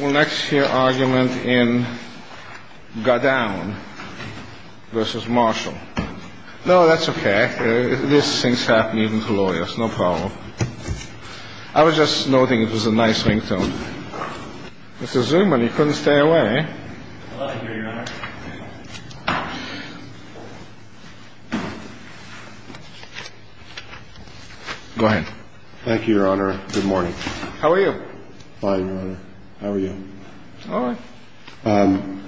We'll next hear argument in Godown v. Marshall No, that's okay. These things happen even to lawyers. No problem. I was just noting it was a nice ringtone. Mr. Zuman, you couldn't stay away. I'm glad to be here, Your Honor. Thank you, Your Honor. Good morning. How are you? Fine, Your Honor. How are you? All right.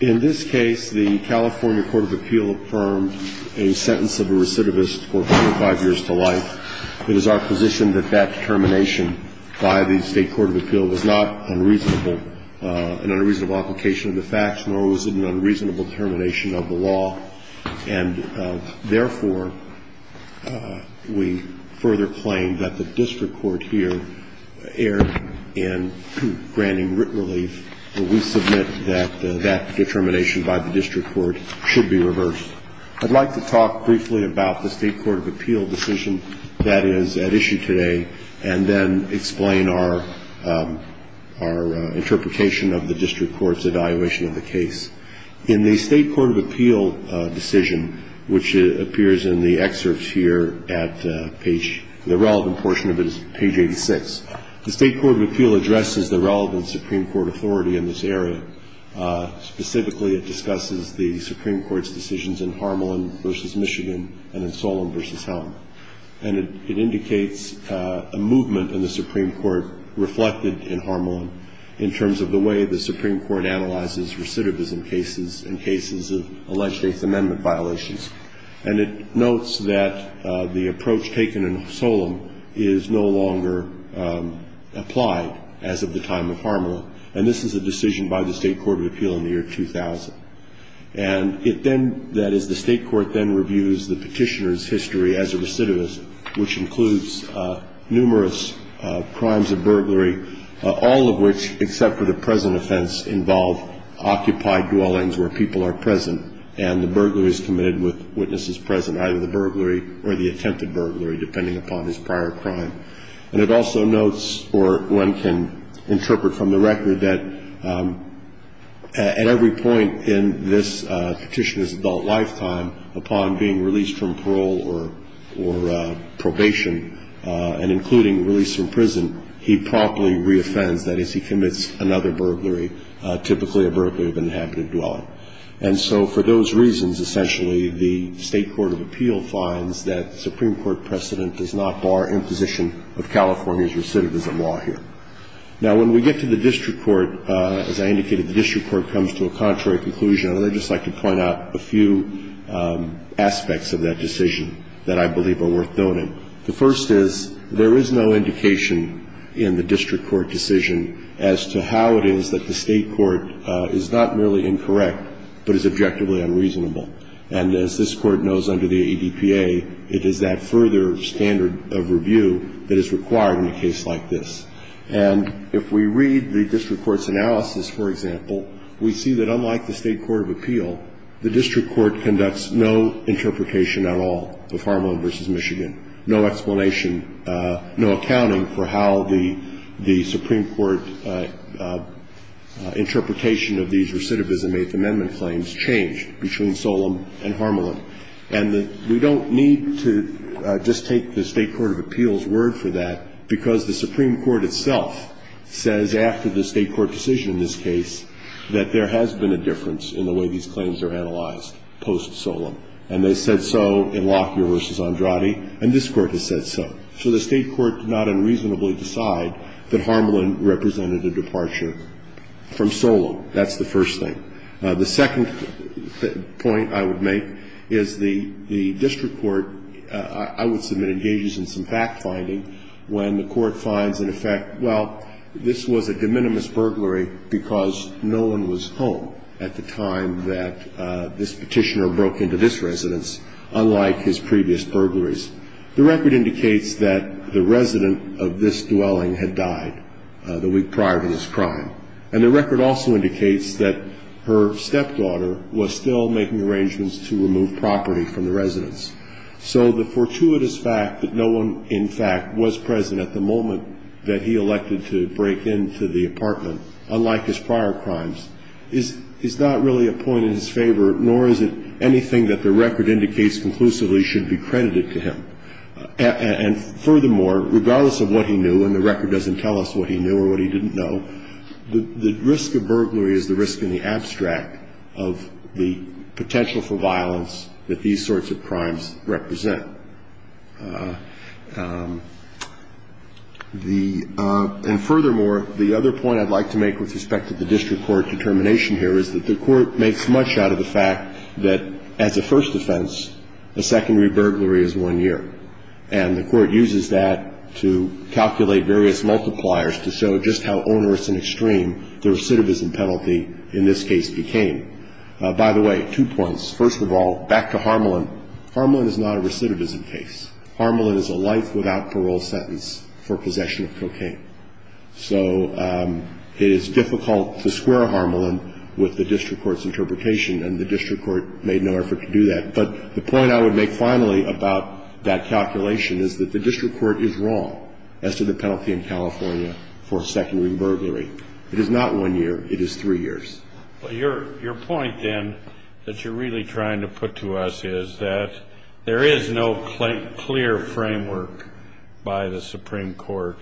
In this case, the California Court of Appeal affirmed a sentence of a recidivist for four or five years to life. It is our position that that determination by the State Court of Appeal was not unreasonable, an unreasonable application of the facts, nor was it an unreasonable determination of the law. And, therefore, we further claim that the district court here erred in granting writ relief, and we submit that that determination by the district court should be reversed. I'd like to talk briefly about the State Court of Appeal decision that is at issue today and then explain our interpretation of the district court's evaluation of the case. In the State Court of Appeal decision, which appears in the excerpts here at page ‑‑ the relevant portion of it is page 86, the State Court of Appeal addresses the relevant Supreme Court authority in this area. Specifically, it discusses the Supreme Court's decisions in Harmelin v. Michigan and in Solon v. Helen. And it indicates a movement in the Supreme Court reflected in Harmelin in terms of the way the Supreme Court analyzes recidivism cases and cases of alleged Eighth Amendment violations. And it notes that the approach taken in Solon is no longer applied as of the time of Harmelin, and this is a decision by the State Court of Appeal in the year 2000. And it then ‑‑ that is, the State Court then reviews the petitioner's history as a recidivist, which includes numerous crimes of burglary, all of which except for the present offense involve occupied dwellings where people are present and the burglary is committed with witnesses present, either the burglary or the attempted burglary, depending upon his prior crime. And it also notes, or one can interpret from the record, that at every point in this petitioner's adult lifetime, upon being released from parole or probation and including release from prison, he promptly reoffends, that is, he commits another burglary, typically a burglary of inhabited dwelling. And so for those reasons, essentially, the State Court of Appeal finds that Supreme Court precedent does not bar imposition of California's recidivism law here. Now, when we get to the district court, as I indicated, the district court comes to a contrary conclusion. And I'd just like to point out a few aspects of that decision that I believe are worth noting. The first is there is no indication in the district court decision as to how it is that the state court is not merely incorrect but is objectively unreasonable. And as this court knows under the ADPA, it is that further standard of review that is required in a case like this. And if we read the district court's analysis, for example, we see that unlike the State Court of Appeal, the district court conducts no interpretation at all of Harmelin v. Michigan, no explanation, no accounting for how the Supreme Court interpretation of these recidivism Eighth Amendment claims changed between Solem and Harmelin. And we don't need to just take the State Court of Appeal's word for that because the Supreme Court itself says after the State Court decision in this case that there has been a difference in the way these claims are analyzed post-Solem. And they said so in Lockyer v. Andrade, and this Court has said so. So the State Court did not unreasonably decide that Harmelin represented a departure from Solem. That's the first thing. The second point I would make is the district court, I would submit, engages in some fact-finding when the court finds in effect, well, this was a de minimis burglary because no one was home at the time that this Petitioner broke into this residence, unlike his previous burglaries. The record indicates that the resident of this dwelling had died the week prior to this crime. And the record also indicates that her stepdaughter was still making arrangements to remove property from the residence. So the fortuitous fact that no one in fact was present at the moment that he elected to break into the apartment, unlike his prior crimes, is not really a point in his favor, nor is it anything that the record indicates conclusively should be credited to him. And furthermore, regardless of what he knew, and the record doesn't tell us what he knew or what he didn't know, the risk of burglary is the risk in the abstract of the potential for violence that these sorts of crimes represent. The – and furthermore, the other point I'd like to make with respect to the district court determination here is that the court makes much out of the fact that as a first offense, a secondary burglary is one year. And the court uses that to calculate various multipliers to show just how onerous and extreme the recidivism penalty in this case became. By the way, two points. First of all, back to Harmelin. Harmelin is not a recidivism case. Harmelin is a life without parole sentence for possession of cocaine. So it is difficult to square Harmelin with the district court's interpretation, and the district court made no effort to do that. But the point I would make finally about that calculation is that the district court is wrong as to the penalty in California for secondary burglary. It is not one year. It is three years. But your point, then, that you're really trying to put to us is that there is no clear framework by the Supreme Court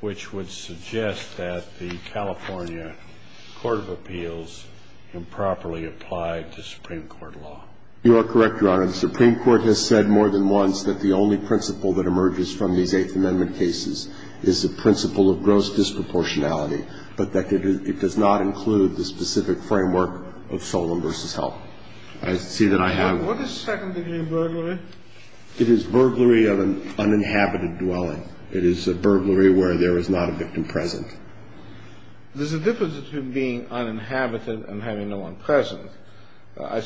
which would suggest that the California Court of Appeals improperly applied the Supreme Court law. You are correct, Your Honor. The Supreme Court has said more than once that the only principle that emerges from these Eighth Amendment cases is the principle of gross disproportionality, but that it does not include the specific framework of Solon v. Help. I see that I have one. What is secondary burglary? It is burglary of an uninhabited dwelling. It is a burglary where there is not a victim present. There's a difference between being uninhabited and having no one present. I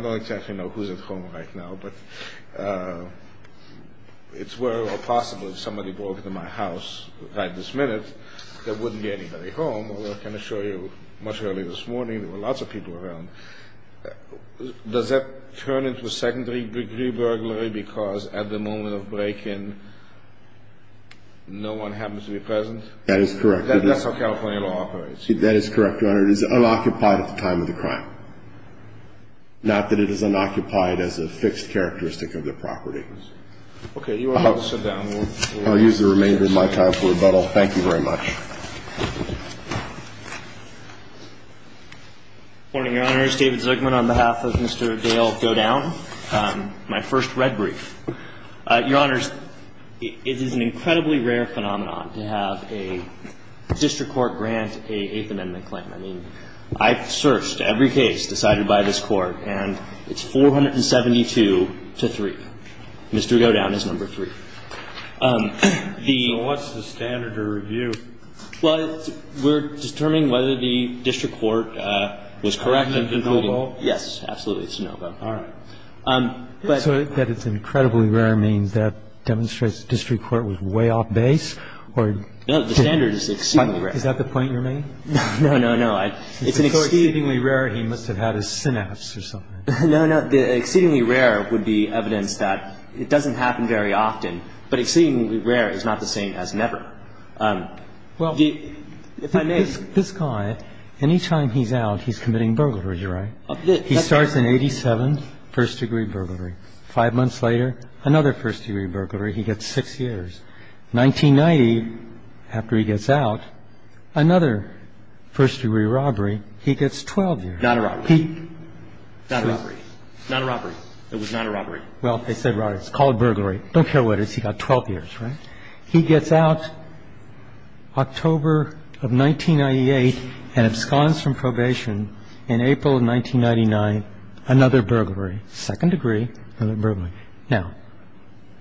don't exactly know who's at home right now, but it's very well possible if somebody broke into my house right this minute, there wouldn't be anybody home. I can assure you much earlier this morning there were lots of people around. Does that turn into a secondary degree burglary because at the moment of break-in no one happens to be present? That is correct. That is correct, Your Honor. It is unoccupied at the time of the crime, not that it is unoccupied as a fixed characteristic of the property. Okay. You are able to sit down. I'll use the remainder of my time for rebuttal. Thank you very much. Good morning, Your Honors. David Zuckman on behalf of Mr. Dale Godown. My first red brief. Your Honors, it is an incredibly rare phenomenon to have a district court grant an Eighth Amendment claim. I mean, I've searched every case decided by this Court, and it's 472 to 3. Mr. Godown is number 3. So what's the standard to review? Well, we're determining whether the district court was correct in concluding. It's a no vote? Yes, absolutely, it's a no vote. All right. So that it's incredibly rare means that demonstrates the district court was way off base or? No, the standard is exceedingly rare. Is that the point you're making? No, no, no. It's an exceedingly rare. He must have had a synapse or something. No, no. The exceedingly rare would be evidence that it doesn't happen very often. But exceedingly rare is not the same as never. Well, this guy, any time he's out, he's committing burglaries, right? He starts an 87 first-degree burglary. Five months later, another first-degree burglary. He gets six years. 1990, after he gets out, another first-degree robbery. He gets 12 years. Not a robbery. Not a robbery. Not a robbery. It was not a robbery. Well, they said robbery. It's called burglary. Don't care what it is. He got 12 years, right? He gets out October of 1998 and absconds from probation in April of 1999, another burglary. Second degree, another burglary. Now,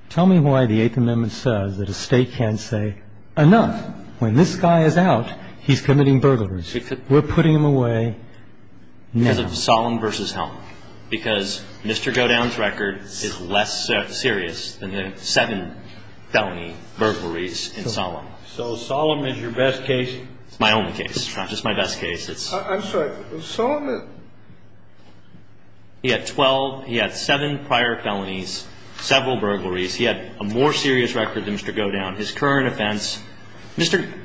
tell me why the Eighth Amendment says that a state can't say enough. When this guy is out, he's committing burglaries. We're putting him away now. Because of solemn versus solemn. Because Mr. Godown's record is less serious than the seven felony burglaries in solemn. So solemn is your best case? It's my only case. It's not just my best case. I'm sorry. He had 12. He had seven prior felonies, several burglaries. He had a more serious record than Mr. Godown. His current offense,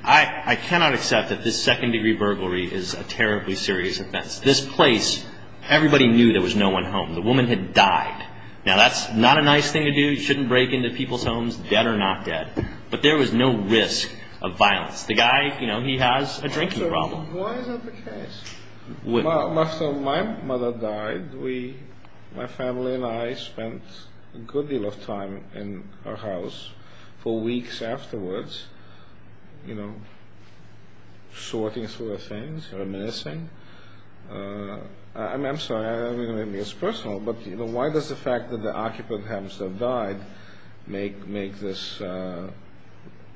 I cannot accept that this second-degree burglary is a terribly serious offense. This place, everybody knew there was no one home. The woman had died. Now, that's not a nice thing to do. You shouldn't break into people's homes, dead or not dead. But there was no risk of violence. The guy, you know, he has a drinking problem. Why is that the case? My mother died. My family and I spent a good deal of time in her house for weeks afterwards, you know, sorting through her things, her medicine. I'm sorry. I don't mean to be as personal. But, you know, why does the fact that the occupant, Hamster, died make this highly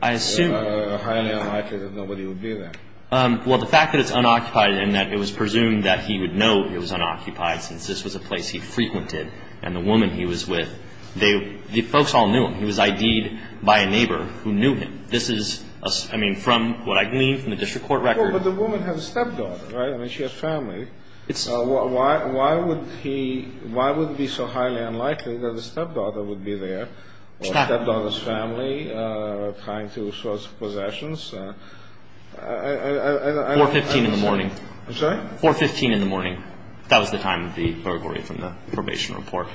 unlikely that nobody would be there? Well, the fact that it's unoccupied and that it was presumed that he would know it was unoccupied since this was a place he frequented and the woman he was with, the folks all knew him. He was ID'd by a neighbor who knew him. This is, I mean, from what I believe from the district court record. Well, but the woman has a stepdaughter, right? I mean, she has family. Why would he be so highly unlikely that a stepdaughter would be there? Or a stepdaughter's family, trying to source possessions. I don't know. 4.15 in the morning. I'm sorry? 4.15 in the morning. That was the time of the burglary from the probation report.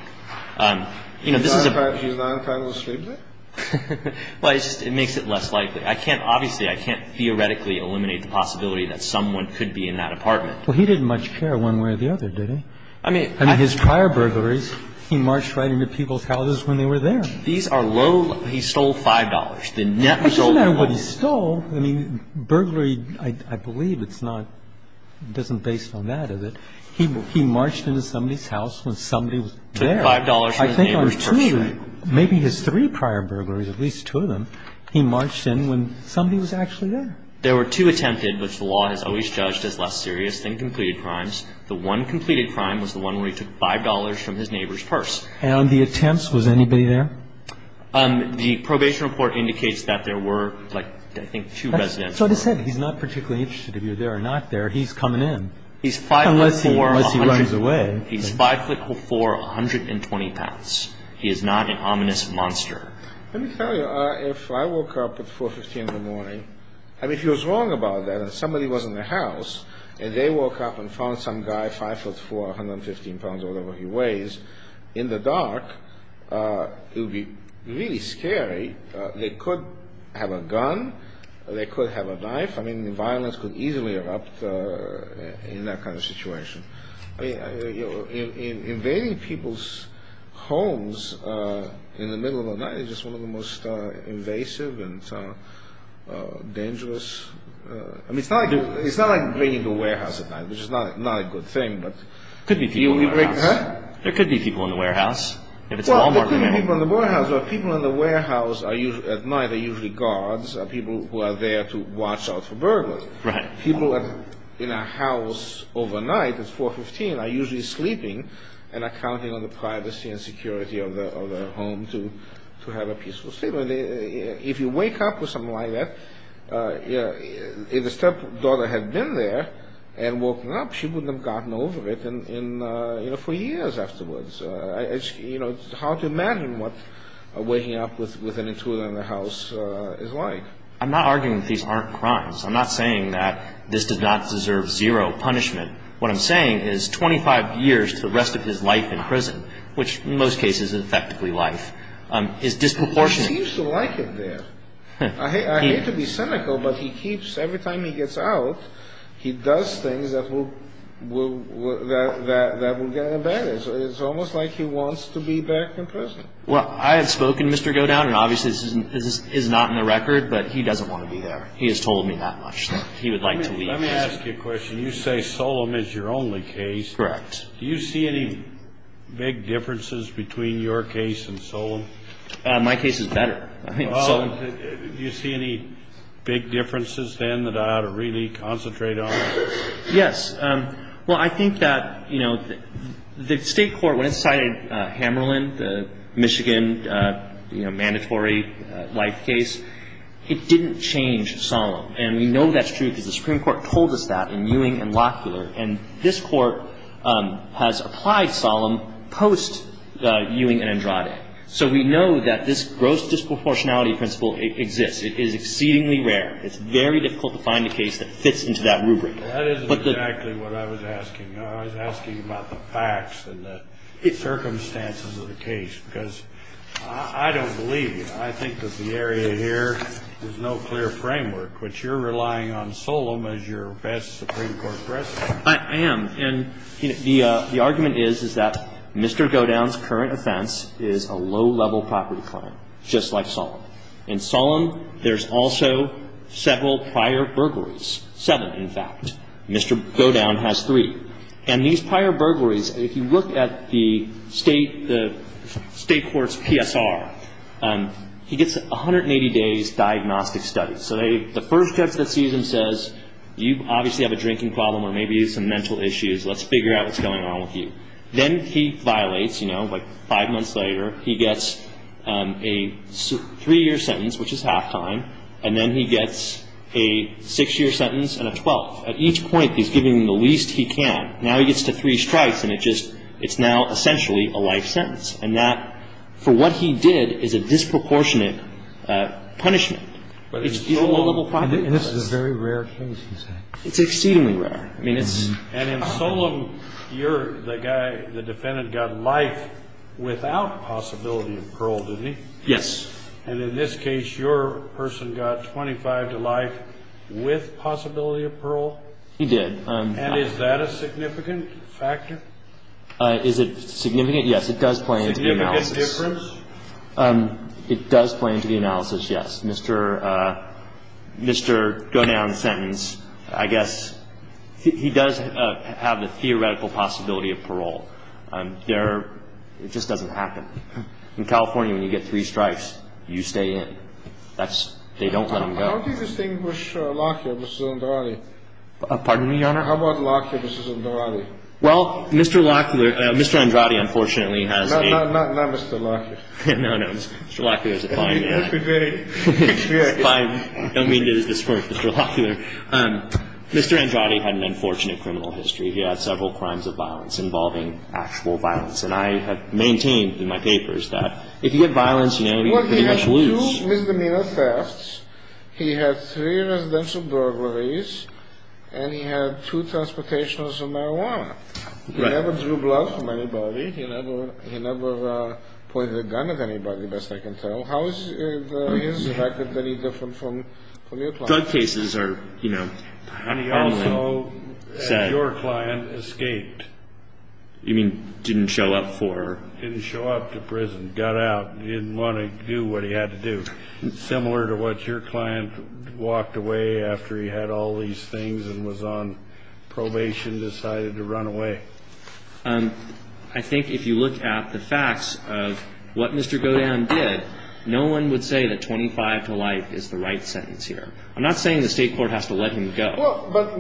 You know, this is a... He's not entitled to sleep there? Well, it just makes it less likely. I can't, obviously, I can't theoretically eliminate the possibility that someone could be in that apartment. Well, he didn't much care one way or the other, did he? I mean... I mean, his prior burglaries, he marched right into people's houses when they were there. These are low... He stole $5. It doesn't matter what he stole. I mean, burglary, I believe it's not, it doesn't base on that, does it? He marched into somebody's house when somebody was there. He took $5 from his neighbor's purse. I think on two, maybe his three prior burglaries, at least two of them, he marched in when somebody was actually there. There were two attempted, which the law has always judged as less serious than completed crimes. The one completed crime was the one where he took $5 from his neighbor's purse. And the attempts, was anybody there? The probation report indicates that there were, I think, two residents. So it is said he's not particularly interested if you're there or not there. He's coming in. Unless he runs away. He's 5'4", 120 pounds. He is not an ominous monster. Let me tell you, if I woke up at 4.15 in the morning, I mean, if he was wrong about that, and somebody was in the house, and they woke up and found some guy 5'4", 115 pounds or whatever he weighs, in the dark, it would be really scary. They could have a gun. They could have a knife. I mean, the violence could easily erupt in that kind of situation. I mean, invading people's homes in the middle of the night is just one of the most invasive and dangerous. I mean, it's not like breaking into a warehouse at night, which is not a good thing. There could be people in the warehouse. Well, there could be people in the warehouse. People in the warehouse at night are usually guards, people who are there to watch out for burglars. People in a house overnight at 4.15 are usually sleeping and are counting on the privacy and security of their home to have a peaceful sleep. If you wake up with someone like that, if the stepdaughter had been there and woken up, she wouldn't have gotten over it for years afterwards. It's hard to imagine what waking up with an intruder in the house is like. I'm not arguing that these aren't crimes. I'm not saying that this does not deserve zero punishment. What I'm saying is 25 years to the rest of his life in prison, which in most cases is effectively life, is disproportionate. He seems to like it there. I hate to be cynical, but he keeps, every time he gets out, he does things that will get him buried. So it's almost like he wants to be back in prison. Well, I have spoken to Mr. Godown, and obviously this is not in the record, but he doesn't want to be there. He has told me that much that he would like to leave. Let me ask you a question. You say Solem is your only case. Correct. Do you see any big differences between your case and Solem? My case is better. Well, do you see any big differences then that I ought to really concentrate on? Yes. Well, I think that, you know, the State Court, when it cited Hammerlin, the Michigan, you know, mandatory life case, it didn't change Solem. And we know that's true because the Supreme Court told us that in Ewing and Locklear, and this Court has applied Solem post Ewing and Andrade. So we know that this gross disproportionality principle exists. It is exceedingly rare. It's very difficult to find a case that fits into that rubric. That isn't exactly what I was asking. I was asking about the facts and the circumstances of the case, because I don't believe you. I think that the area here is no clear framework, which you're relying on Solem as your best Supreme Court precedent. I am. And the argument is, is that Mr. Godown's current offense is a low-level property claim, just like Solem. In Solem, there's also several prior burglaries, seven, in fact. Mr. Godown has three. And these prior burglaries, if you look at the State Court's PSR, he gets 180 days diagnostic study. So the first judge that sees him says, you obviously have a drinking problem or maybe some mental issues. Let's figure out what's going on with you. Then he violates, you know, like five months later, he gets a three-year sentence, which is halftime, and then he gets a six-year sentence and a twelfth. At each point, he's giving the least he can. Now he gets to three strikes, and it's now essentially a life sentence. And that, for what he did, is a disproportionate punishment. But it's still a low-level property claim. And this is a very rare case, he said. It's exceedingly rare. I mean, it's... And in Solem, you're the guy, the defendant got life without possibility of parole, didn't he? Yes. And in this case, your person got 25 to life with possibility of parole? He did. And is that a significant factor? Is it significant? Yes, it does play into the analysis. Significant difference? It does play into the analysis, yes. Mr. Godin's sentence, I guess, he does have the theoretical possibility of parole. It just doesn't happen. In California, when you get three strikes, you stay in. They don't let him go. How do you distinguish Lockyer versus Andrade? Pardon me, Your Honor? How about Lockyer versus Andrade? Well, Mr. Lockyer... Mr. Andrade, unfortunately, has a... Not Mr. Lockyer. No, no. Mr. Lockyer is a fine guy. I don't mean to disperse Mr. Lockyer. Mr. Andrade had an unfortunate criminal history. He had several crimes of violence involving actual violence. And I have maintained in my papers that if you get violence, you know, you pretty much lose. He had two misdemeanor thefts. He had three residential burglaries. And he had two transportations of marijuana. He never drew blood from anybody. He never pointed a gun at anybody, best I can tell. So how is his record very different from your client's? Drug cases are, you know... And he also, as your client, escaped. You mean didn't show up for... Didn't show up to prison, got out, didn't want to do what he had to do. Similar to what your client walked away after he had all these things and was on probation, decided to run away. I think if you look at the facts of what Mr. Godin did, no one would say that 25 to life is the right sentence here. I'm not saying the state court has to let him go. But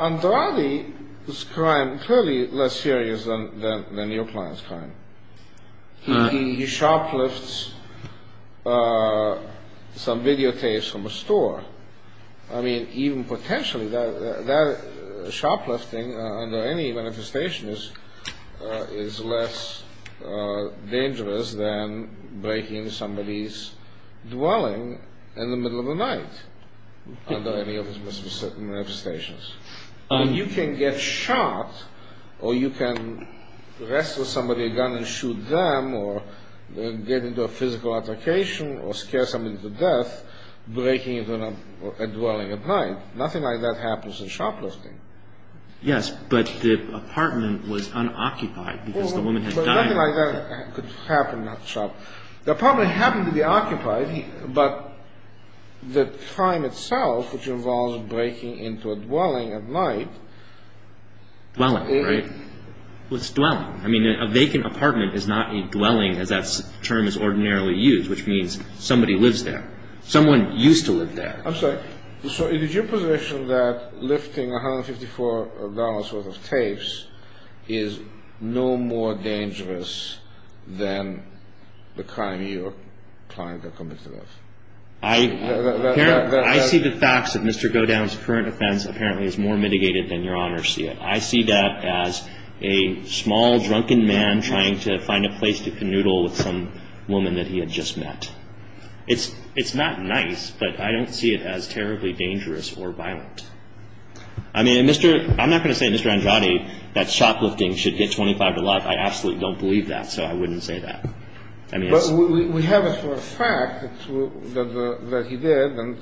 Andrade's crime is clearly less serious than your client's crime. He shoplifts some videotapes from a store. I mean, even potentially, shoplifting under any manifestation is less dangerous than breaking somebody's dwelling in the middle of the night. Under any of his manifestations. You can get shot, or you can wrestle somebody with a gun and shoot them, or get into a physical altercation, or scare somebody to death, breaking into a dwelling at night. Nothing like that happens in shoplifting. Yes, but the apartment was unoccupied because the woman had died. Nothing like that could happen at the shop. The apartment happened to be occupied, but the crime itself, which involves breaking into a dwelling at night... Dwelling, right? Well, it's dwelling. I mean, a vacant apartment is not a dwelling, as that term is ordinarily used, which means somebody lives there. Someone used to live there. I'm sorry. So is it your position that lifting $154 worth of tapes is no more dangerous than the crime your client committed? I see the facts that Mr. Godin's current offense apparently is more mitigated than Your Honor see it. I see that as a small, drunken man trying to find a place to canoodle with some woman that he had just met. It's not nice, but I don't see it as terribly dangerous or violent. I mean, I'm not going to say, Mr. Andrade, that shoplifting should get $25 a lot. I absolutely don't believe that, so I wouldn't say that. But we have it for a fact that he did, and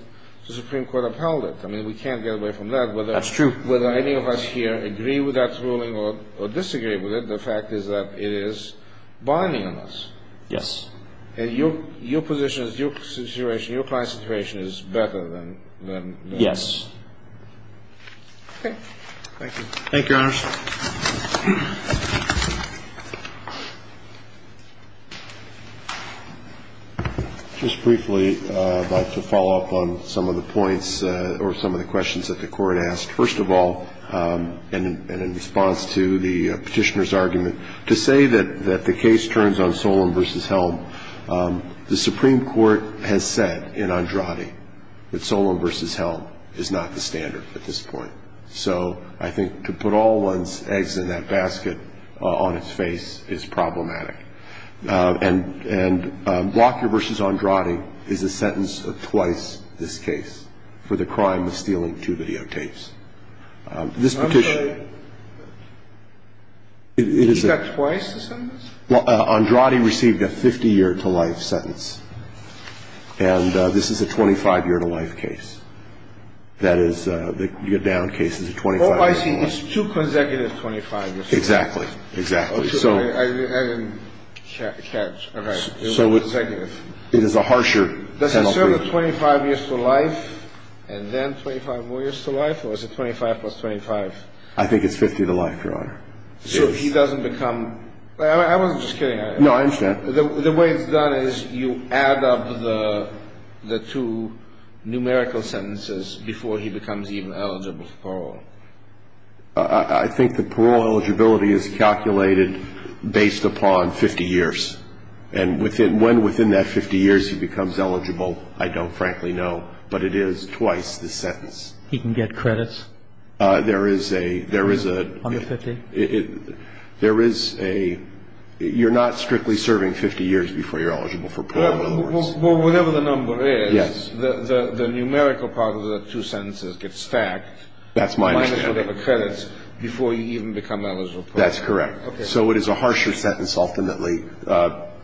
the Supreme Court upheld it. I mean, we can't get away from that. That's true. I don't know whether any of us here agree with that ruling or disagree with it. The fact is that it is binding on us. Yes. And your position, your situation, your client's situation is better than that. Yes. Okay. Thank you. Thank you, Your Honor. Just briefly, I'd like to follow up on some of the points or some of the questions that the Court asked. First of all, and in response to the Petitioner's argument, to say that the case turns on Solon v. Helm, the Supreme Court has said in Andrade that Solon v. Helm is not the standard at this point. So I think to put all one's eggs in that basket on its face is problematic. And Blocker v. Andrade is a sentence of twice this case for the crime of stealing two videotapes. This Petitioner. Is that twice the sentence? Andrade received a 50-year-to-life sentence. And this is a 25-year-to-life case. That is, you get down cases of 25 years to life. Oh, I see. It's two consecutive 25 years. Exactly. Exactly. So. I didn't catch. Okay. It's consecutive. It is a harsher sentence. Does it serve a 25 years to life and then 25 more years to life? Or is it 25 plus 25? I think it's 50 to life, Your Honor. So he doesn't become. I wasn't just kidding. No, I understand. The way it's done is you add up the two numerical sentences before he becomes even eligible for parole. I think the parole eligibility is calculated based upon 50 years. And when within that 50 years he becomes eligible, I don't frankly know. But it is twice the sentence. He can get credits? There is a... Under 50? There is a... You're not strictly serving 50 years before you're eligible for parole. Well, whatever the number is. Yes. The numerical part of the two sentences gets stacked. That's my understanding. Minus whatever credits before you even become eligible. That's correct. Okay. So it is a harsher sentence ultimately,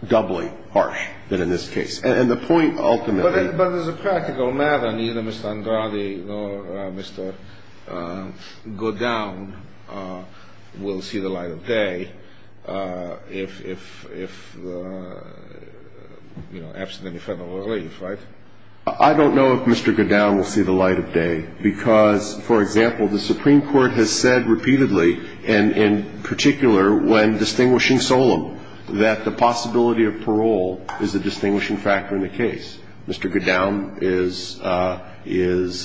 doubly harsh than in this case. And the point ultimately... will see the light of day if, you know, absent any federal relief, right? I don't know if Mr. Goodown will see the light of day because, for example, the Supreme Court has said repeatedly, and in particular when distinguishing Solem, that the possibility of parole is a distinguishing factor in the case. Mr. Goodown is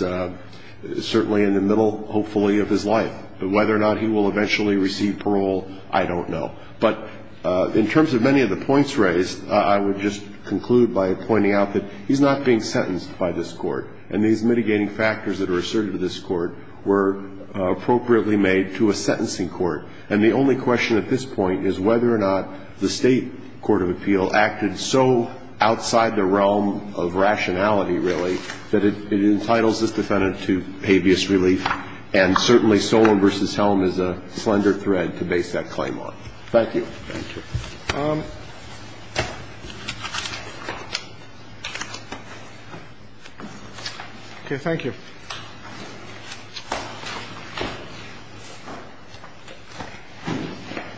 certainly in the middle, hopefully, of his life. But whether or not he will eventually receive parole, I don't know. But in terms of many of the points raised, I would just conclude by pointing out that he's not being sentenced by this court. And these mitigating factors that are asserted to this court were appropriately made to a sentencing court. And the only question at this point is whether or not the State Court of Appeal acted so outside the realm of rationality, really, that it entitles this defendant to habeas relief and certainly Solem v. Helm is a slender thread to base that claim on. Thank you. Thank you.